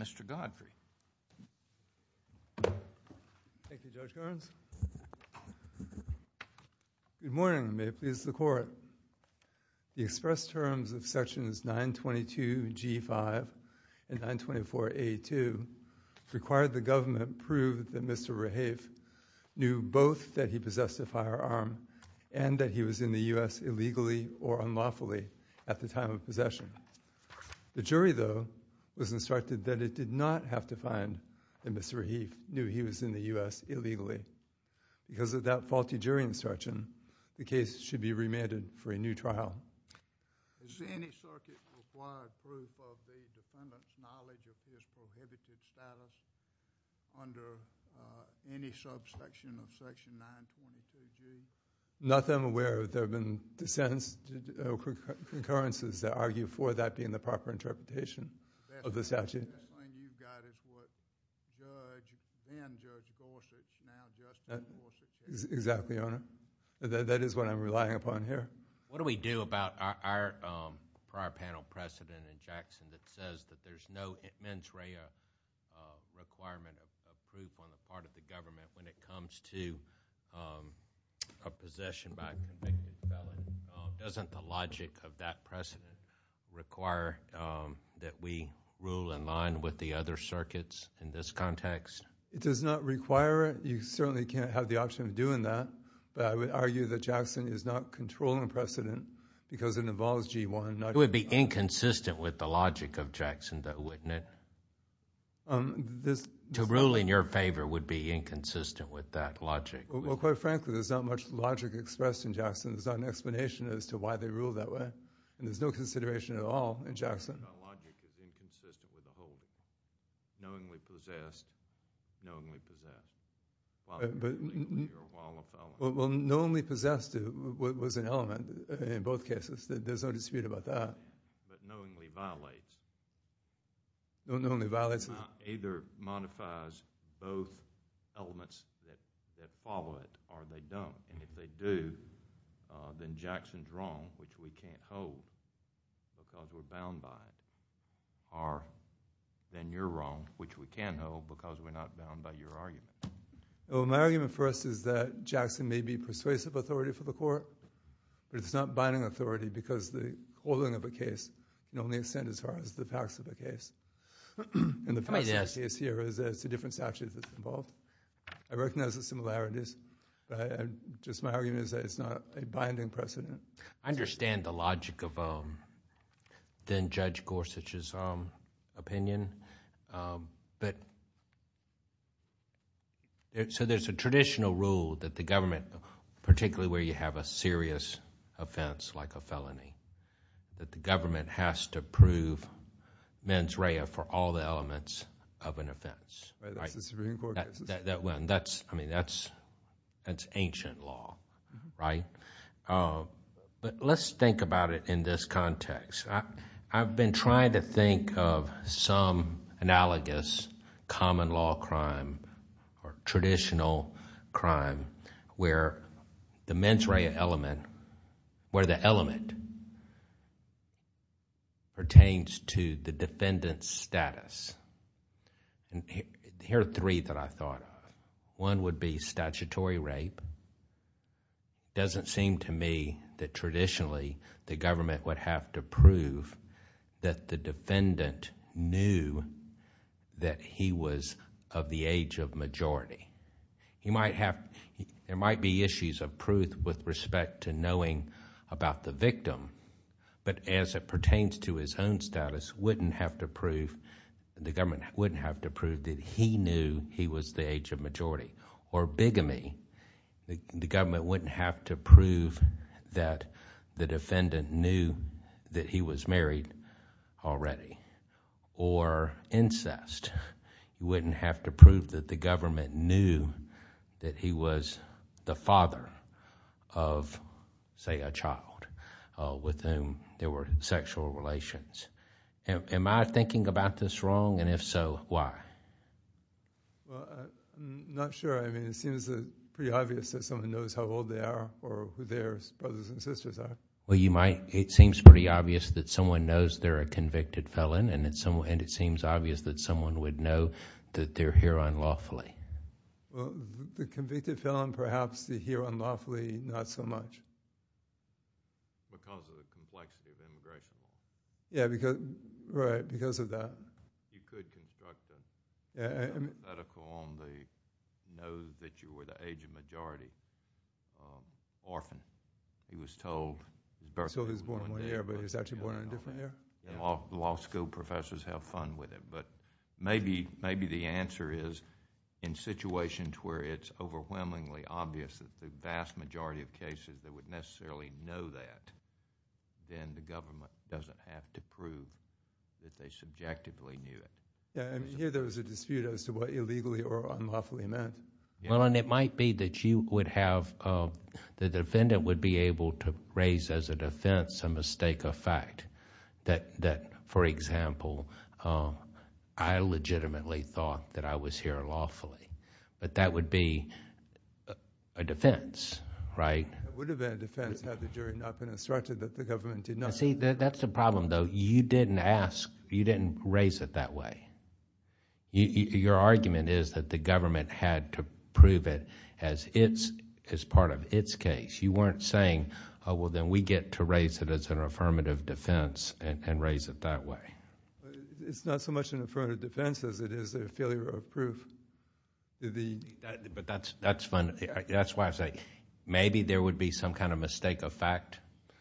Mr. Godfrey. Thank you, Judge Owens. Good morning. May it please the Court. The express terms of Sections 922G5 and 924A2 required the government prove that Mr. Rehaif knew both that he possessed a firearm and that he was in the U.S. illegally or unlawfully at the time of possession. The jury, though, was instructed that it did not have to find that Mr. Rehaif knew he was in the U.S. illegally. Because of that faulty jury instruction, the case should be remanded for a new trial. Is any circuit required proof of the defendant's knowledge of his prohibited status under any subsection of Section 922G? Not that I'm aware of. There have been dissents, concurrences that argue for that being the proper interpretation of the statute. That claim you've got is what Judge and Judge Gorsuch now just in Gorsuch. Exactly, Your Honor. That is what I'm relying upon here. What do we do about our prior panel precedent in Jackson that says that there's no mens rea requirement of proof on the part of the government when it comes to a possession by convicted felon? Doesn't the logic of that precedent require that we rule in line with the other circuits in this context? It does not require it. You certainly can't have the option of doing that, but I would argue that Jackson is not controlling precedent because it involves G1. It would be inconsistent with the logic of Jackson, though, wouldn't it? To rule in your favor would be inconsistent with that logic. Well, quite frankly, there's not much logic expressed in Jackson. There's not an explanation as to why they ruled that way, and there's no consideration at all in Jackson. The logic is inconsistent with the whole logic, knowingly possessed, knowingly possessed. Well, knowingly possessed was an element in both cases. There's no dispute about that. But knowingly violated. Knowingly violated. It either modifies both elements that follow it, or they don't. If they do, then Jackson's wrong, which we can't hold because we're bound by. Or then you're wrong, which we can hold because we're not bound by your argument. Well, my argument for us is that Jackson may be persuasive authority for the court, but he's not binding authority because the holding of a case can only extend as far as the facts of the case. The facts of the case here is that it's a different statute that's involved. I recognize the similarities, but just my argument is that it's not a binding precedent. I understand the logic of then Judge Gorsuch's opinion. There's a traditional rule that the government, particularly where you have a serious offense like a felony, that the government has to prove mens rea for all the elements of an offense. That's ancient law, right? Let's think about it in this context. I've been trying to think of some analogous common law crime or traditional crime where the mens rea element, where the element pertains to the defendant's status. Here are three that I thought of. One would be statutory rape. It doesn't seem to me that traditionally the government would have to prove that the defendant knew that he was of the age of majority. There might be issues of proof with respect to knowing about the victim, but as it pertains to his own status, the government wouldn't have to prove that he knew he was the age of majority. Or bigamy. The government wouldn't have to prove that the defendant knew that he was married already. Or incest. You wouldn't have to prove that the government knew that he was the father of, say, a child with whom there were sexual relations. Am I thinking about this wrong? If so, why? Well, I'm not sure. I mean, it seems pretty obvious that someone knows how old they are or who their brothers and sisters are. Well, it seems pretty obvious that someone knows they're a convicted felon and it seems obvious that someone would know that they're here unlawfully. Well, the convicted felon, perhaps, the here unlawfully, not so much. Because of the complexity of immigration. Yeah, right, because of that. You could construct a medical on the nose that you were the age of majority. Orphan, he was told. So he was born one year, but he was actually born in a different year? Law school professors have fun with it. But maybe the answer is, in situations where it's overwhelmingly obvious that the vast majority of cases that would necessarily know that, then the government doesn't have to prove that they subjectively knew it. Yeah, I mean, here there was a dispute as to what illegally or unlawfully meant. Well, and it might be that you would have... the defendant would be able to raise as a defense a mistake of fact. That, for example, I legitimately thought that I was here lawfully. But that would be a defense, right? It would have been a defense had the jury not been instructed that the government did nothing. See, that's the problem, though. You didn't ask, you didn't raise it that way. Your argument is that the government had to prove it as part of its case. You weren't saying, oh, well, then we get to raise it as an affirmative defense and raise it that way. It's not so much an affirmative defense as it is a failure of proof. But that's why I say maybe there would be some kind of mistake of fact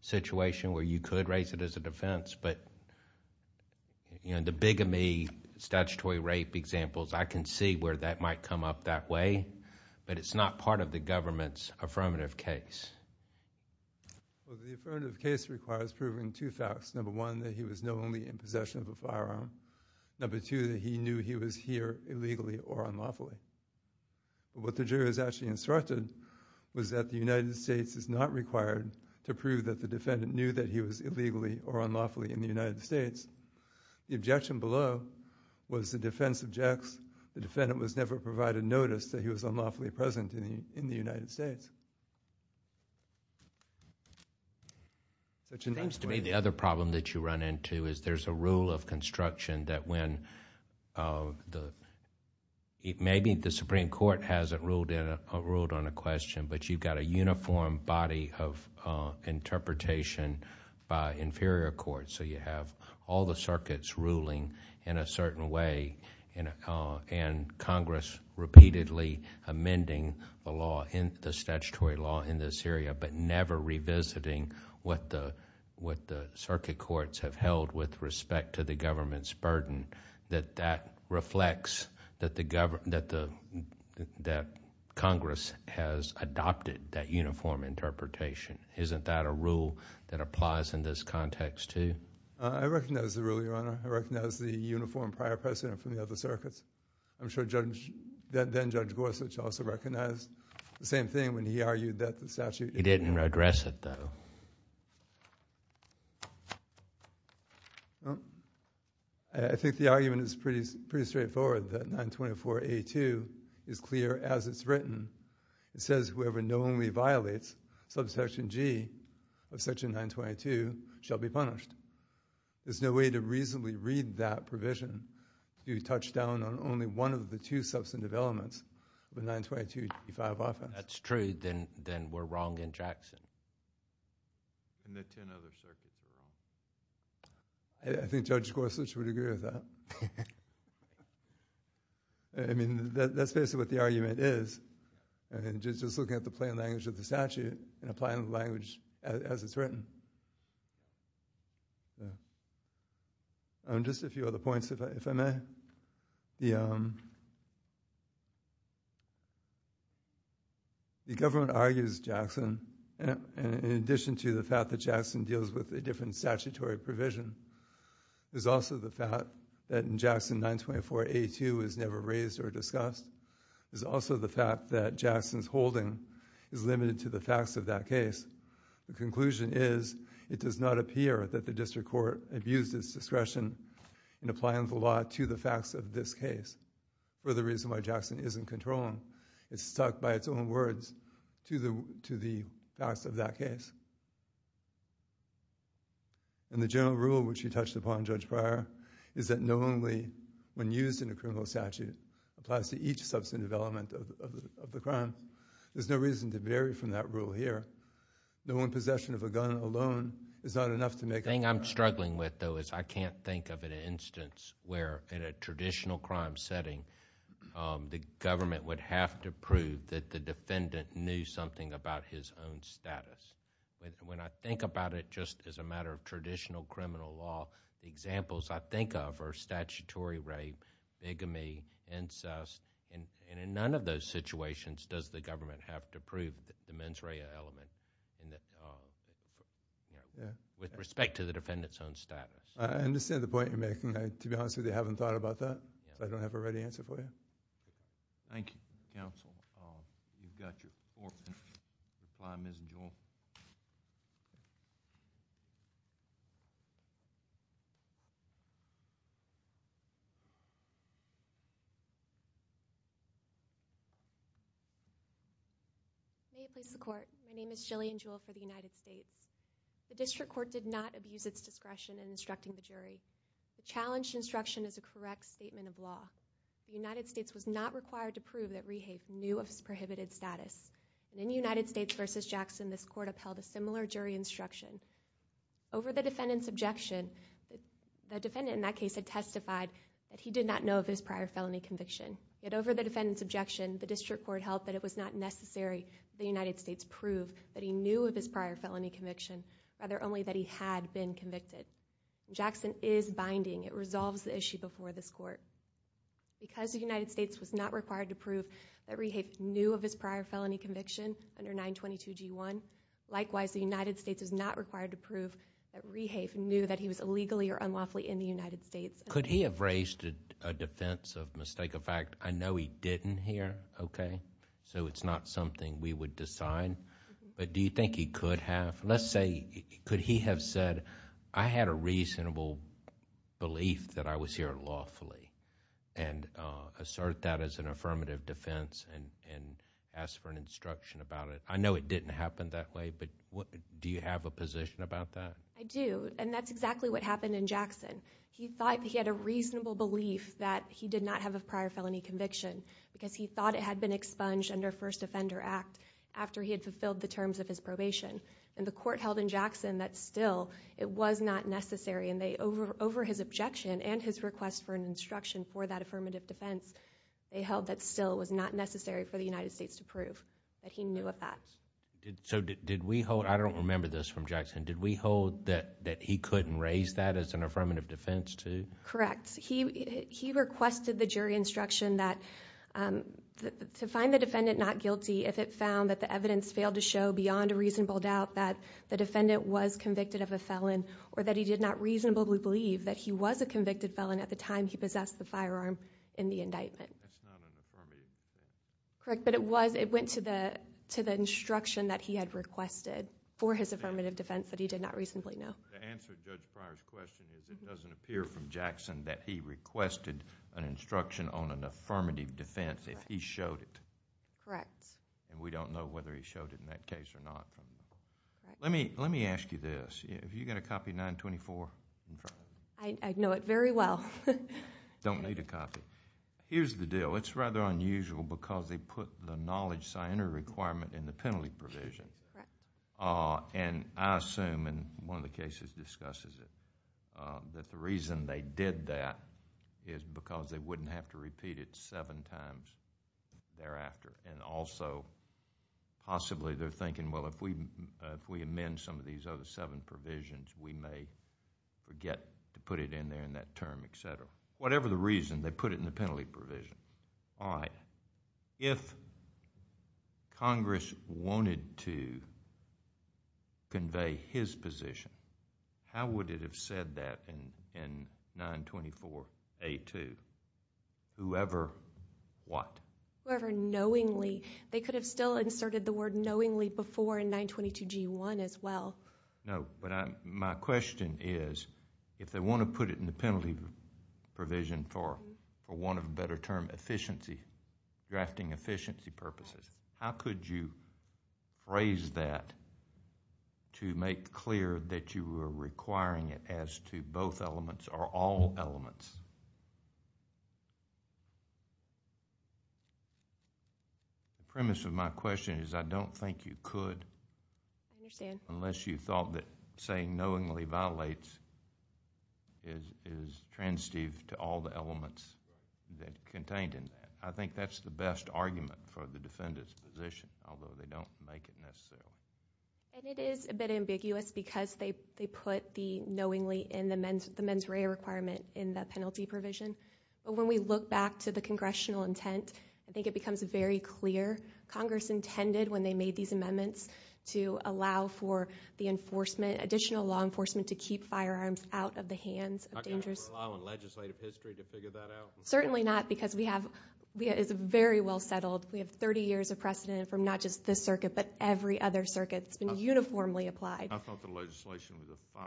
situation where you could raise it as a defense. But the bigamy statutory rape examples, I can see where that might come up that way. But it's not part of the government's affirmative case. Well, the affirmative case requires proving two facts. Number one, that he was knowingly in possession of a firearm. Number two, that he knew he was here illegally or unlawfully. What the jurors actually instructed was that the United States is not required to prove that the defendant knew that he was illegally or unlawfully in the United States. The objection below was the defense objects. The defendant was never provided notice that he was unlawfully present in the United States. It seems to me the other problem that you run into is there's a rule of construction that when... maybe the Supreme Court hasn't ruled on a question, but you've got a uniform body of interpretation by inferior courts. You have all the circuits ruling in a certain way and Congress repeatedly amending the statutory law in this area, but never revisiting what the circuit courts have held with respect to the government's burden, that that reflects that Congress has adopted that uniform interpretation. Isn't that a rule that applies in this context too? I recognize the rule, Your Honor. I recognize the uniform prior precedent from the other circuits. I'm sure then-Judge Gorsuch also recognized the same thing when he argued that the statute... He didn't address it, though. I think the argument is pretty straightforward, that 924A2 is clear as it's written. It says whoever knowingly violates subsection G of section 922 shall be punished. There's no way to reasonably read that provision if you touch down on only one of the two substantive elements of the 922A5 often. If that's true, then we're wrong in Jackson. In the ten other circuits. I think Judge Gorsuch would agree with that. I mean, that's basically what the argument is. Just looking at the plain language of the statute, and applying the language as it's written. Just a few other points, if I may. The government argues, Jackson, in addition to the fact that Jackson deals with a different statutory provision, there's also the fact that in Jackson 924A2 is never raised or discussed. There's also the fact that Jackson's holding is limited to the facts of that case. The conclusion is, it does not appear that the district court abused its discretion in applying the law to the facts of this case. For the reason why Jackson isn't controlling. It's stuck by its own words to the facts of that case. And the general rule, which you touched upon, Judge Breyer, is that knowingly, when used in a criminal statute, applies to each substantive element of the crime. There's no reason to vary from that rule here. The one possession of a gun alone is not enough to make a crime. The thing I'm struggling with, though, is I can't think of an instance where in a traditional crime setting, the government would have to prove that the defendant knew something about his own status. When I think about it just as a matter of traditional criminal law, the examples I think of are statutory rape, bigamy, incest, and in none of those situations does the government have to prove the mens rea element with respect to the defendant's own status. I understand the point you're making. To be honest with you, I haven't thought about that. I don't have a ready answer for you. Thank you, counsel. We've got your fourth and final. Ms. Jewell. My name is Jillian Jewell for the United States. The district court did not abuse its discretion in instructing the jury. The United States was not required to prove that Rehabe knew of his prohibited status. In United States v. Jackson, this court upheld a similar jury instruction. Over the defendant's objection, the defendant in that case had testified that he did not know of his prior felony conviction. Yet over the defendant's objection, the district court held that it was not necessary for the United States to prove that he knew of his prior felony conviction, rather only that he had been convicted. Jackson is binding. It resolves the issue before this court. Because the United States was not required to prove that Rehabe knew of his prior felony conviction under 922G1, likewise the United States was not required to prove that Rehabe knew that he was illegally or unlawfully in the United States. Could he have raised a defense of mistake of fact? I know he didn't here, okay, so it's not something we would decide, but do you think he could have? Let's say, could he have said, I had a reasonable belief that I was here lawfully and assert that as an affirmative defense and ask for an instruction about it? I know it didn't happen that way, but do you have a position about that? I do, and that's exactly what happened in Jackson. He thought he had a reasonable belief that he did not have a prior felony conviction because he thought it had been expunged under First Offender Act after he had fulfilled the terms of his probation. The court held in Jackson that still it was not necessary, and over his objection and his request for an instruction for that affirmative defense, they held that still it was not necessary for the United States to prove that he knew of that. I don't remember this from Jackson. Did we hold that he couldn't raise that as an affirmative defense too? Correct. He requested the jury instruction to find the defendant not guilty if it found that the evidence failed to show beyond a reasonable doubt that the defendant was convicted of a felon or that he did not reasonably believe that he was a convicted felon at the time he possessed the firearm in the indictment. That's not an affirmative defense. Correct, but it went to the instruction that he had requested for his affirmative defense that he did not reasonably know. The answer to Judge Pryor's question is it doesn't appear from Jackson that he requested an instruction on an affirmative defense if he showed it. Correct. We don't know whether he showed it in that case or not. Let me ask you this. Have you got a copy of 924 in front of you? I know it very well. Don't need a copy. Here's the deal. It's rather unusual because they put the knowledge scientific requirement in the penalty provision, and I assume in one of the cases discusses it, that the reason they did that is because they wouldn't have to repeat it seven times. Also, possibly they're thinking, well, if we amend some of these other seven provisions, we may forget to put it in there in that term, et cetera. Whatever the reason, they put it in the penalty provision. All right. If Congress wanted to convey his position, how would it have said that in 924A2? Whoever what? Whoever knowingly. They could have still inserted the word knowingly before in 922G1 as well. No, but my question is, if they want to put it in the penalty provision for, for want of a better term, efficiency, drafting efficiency purposes, how could you phrase that to make clear that you were requiring it as to both elements or all elements? The premise of my question is I don't think you could... I understand.... unless you thought that saying knowingly violates is transitive to all the elements that contained it. I think that's the best argument for the defendant's position, although they don't make it necessarily. It is a bit ambiguous because they put the knowingly in the mens rea requirement in the penalty provision. When we look back to the congressional intent, I think it becomes very clear Congress intended, when they made these amendments, to allow for the enforcement, additional law enforcement, to keep firearms out of the hands of dangerous... Not going to rely on legislative history to figure that out? Certainly not because we have... it's very well settled. We have 30 years of precedent from not just this circuit but every other circuit. It's been uniformly applied. I thought the legislation was the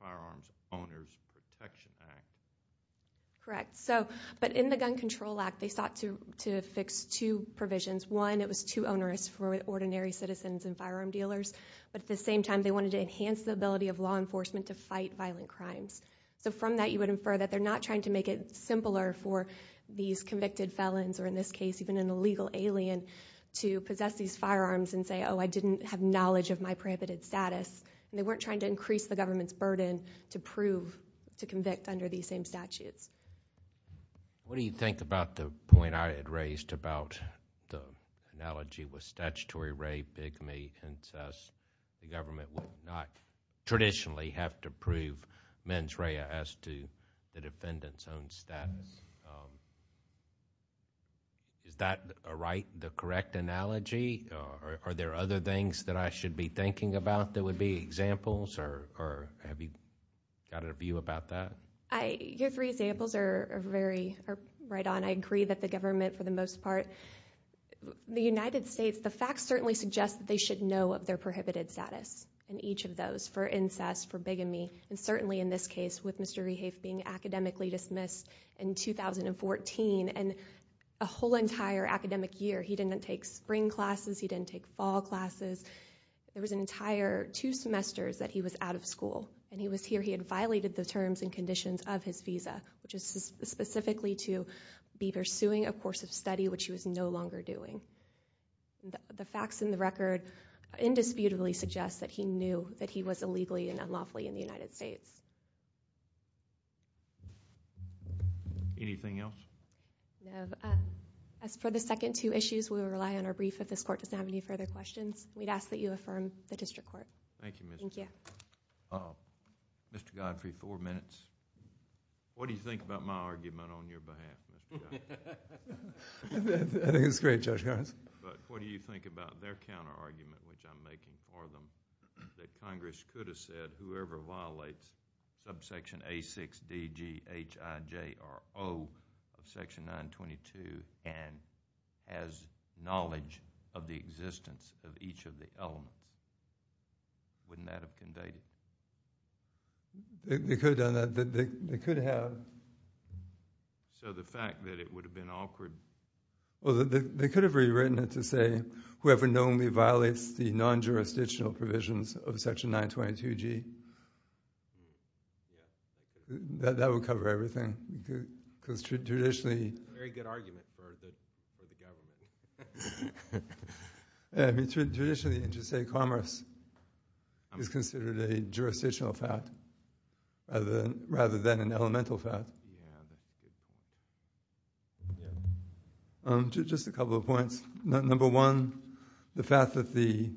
Firearms Owners Protection Act. Correct. But in the Gun Control Act, they sought to fix two provisions. One, it was too onerous for ordinary citizens and firearm dealers. But at the same time, they wanted to enhance the ability of law enforcement to fight violent crimes. From that, you would infer that they're not trying to make it simpler for these convicted felons, or in this case, even an illegal alien, to possess these firearms and say, oh, I didn't have knowledge of my prohibited status. They weren't trying to increase the government's burden to prove to convict under these same statutes. What do you think about the point I had raised about the analogy with statutory rape, bigamy, incest? The government will not traditionally have to prove mens rea as to the defendant's own status. Is that right, the correct analogy? Are there other things that I should be thinking about that would be examples, or have you got a view about that? Your three examples are right on. I agree that the government, for the most part... The United States, the facts certainly suggest that they should know of their prohibited status in each of those, for incest, for bigamy, and certainly in this case, with Mr. Rehafe being academically dismissed in 2014, and a whole entire academic year, he didn't take spring classes, he didn't take fall classes. There was an entire two semesters that he was out of school, and he was here. He had violated the terms and conditions of his visa, which is specifically to be pursuing a course of study, which he was no longer doing. The facts in the record indisputably suggest that he knew that he was illegally and unlawfully in the United States. Anything else? No. As for the second two issues, we will rely on our brief. If this court doesn't have any further questions, we'd ask that you affirm the district court. Thank you, Miss. Thank you. Mr. Godfrey, four minutes. What do you think about my argument on your behalf, Mr. Godfrey? I think it's great, Judge Harris. But what do you think about their counterargument, which I'm making for them, that Congress could have said, whoever violates subsection A6DGHIJRO of section 922 and has knowledge of the existence of each of the elements, wouldn't that have been dated? They could have done that. They could have. So the fact that it would have been awkward? Well, they could have rewritten it to say, whoever knownly violates the non-jurisdictional provisions of section 922G. That would cover everything. It's a very good argument for the government. Traditionally, you just say commerce is considered a jurisdictional fact rather than an elemental fact. Just a couple of points. Number one, the fact that the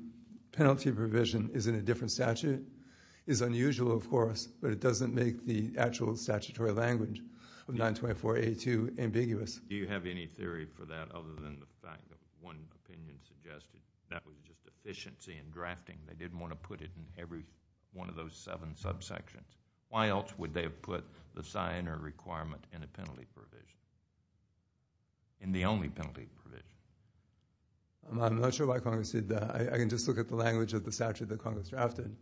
penalty provision is in a different statute is unusual, of course, but it doesn't make the actual statutory language of 924A2 ambiguous. Do you have any theory for that other than the fact that one opinion suggested that was just efficiency in drafting? They didn't want to put it in every one of those seven subsections. Why else would they have put the sign or requirement in a penalty provision, in the only penalty provision? I'm not sure why Congress did that. I can just look at the language of the statute that Congress drafted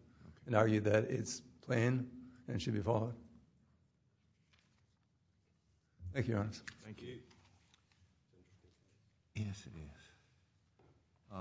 and argue that it's plain and should be followed. Thank you, Your Honor. Thank you. Yes, it is.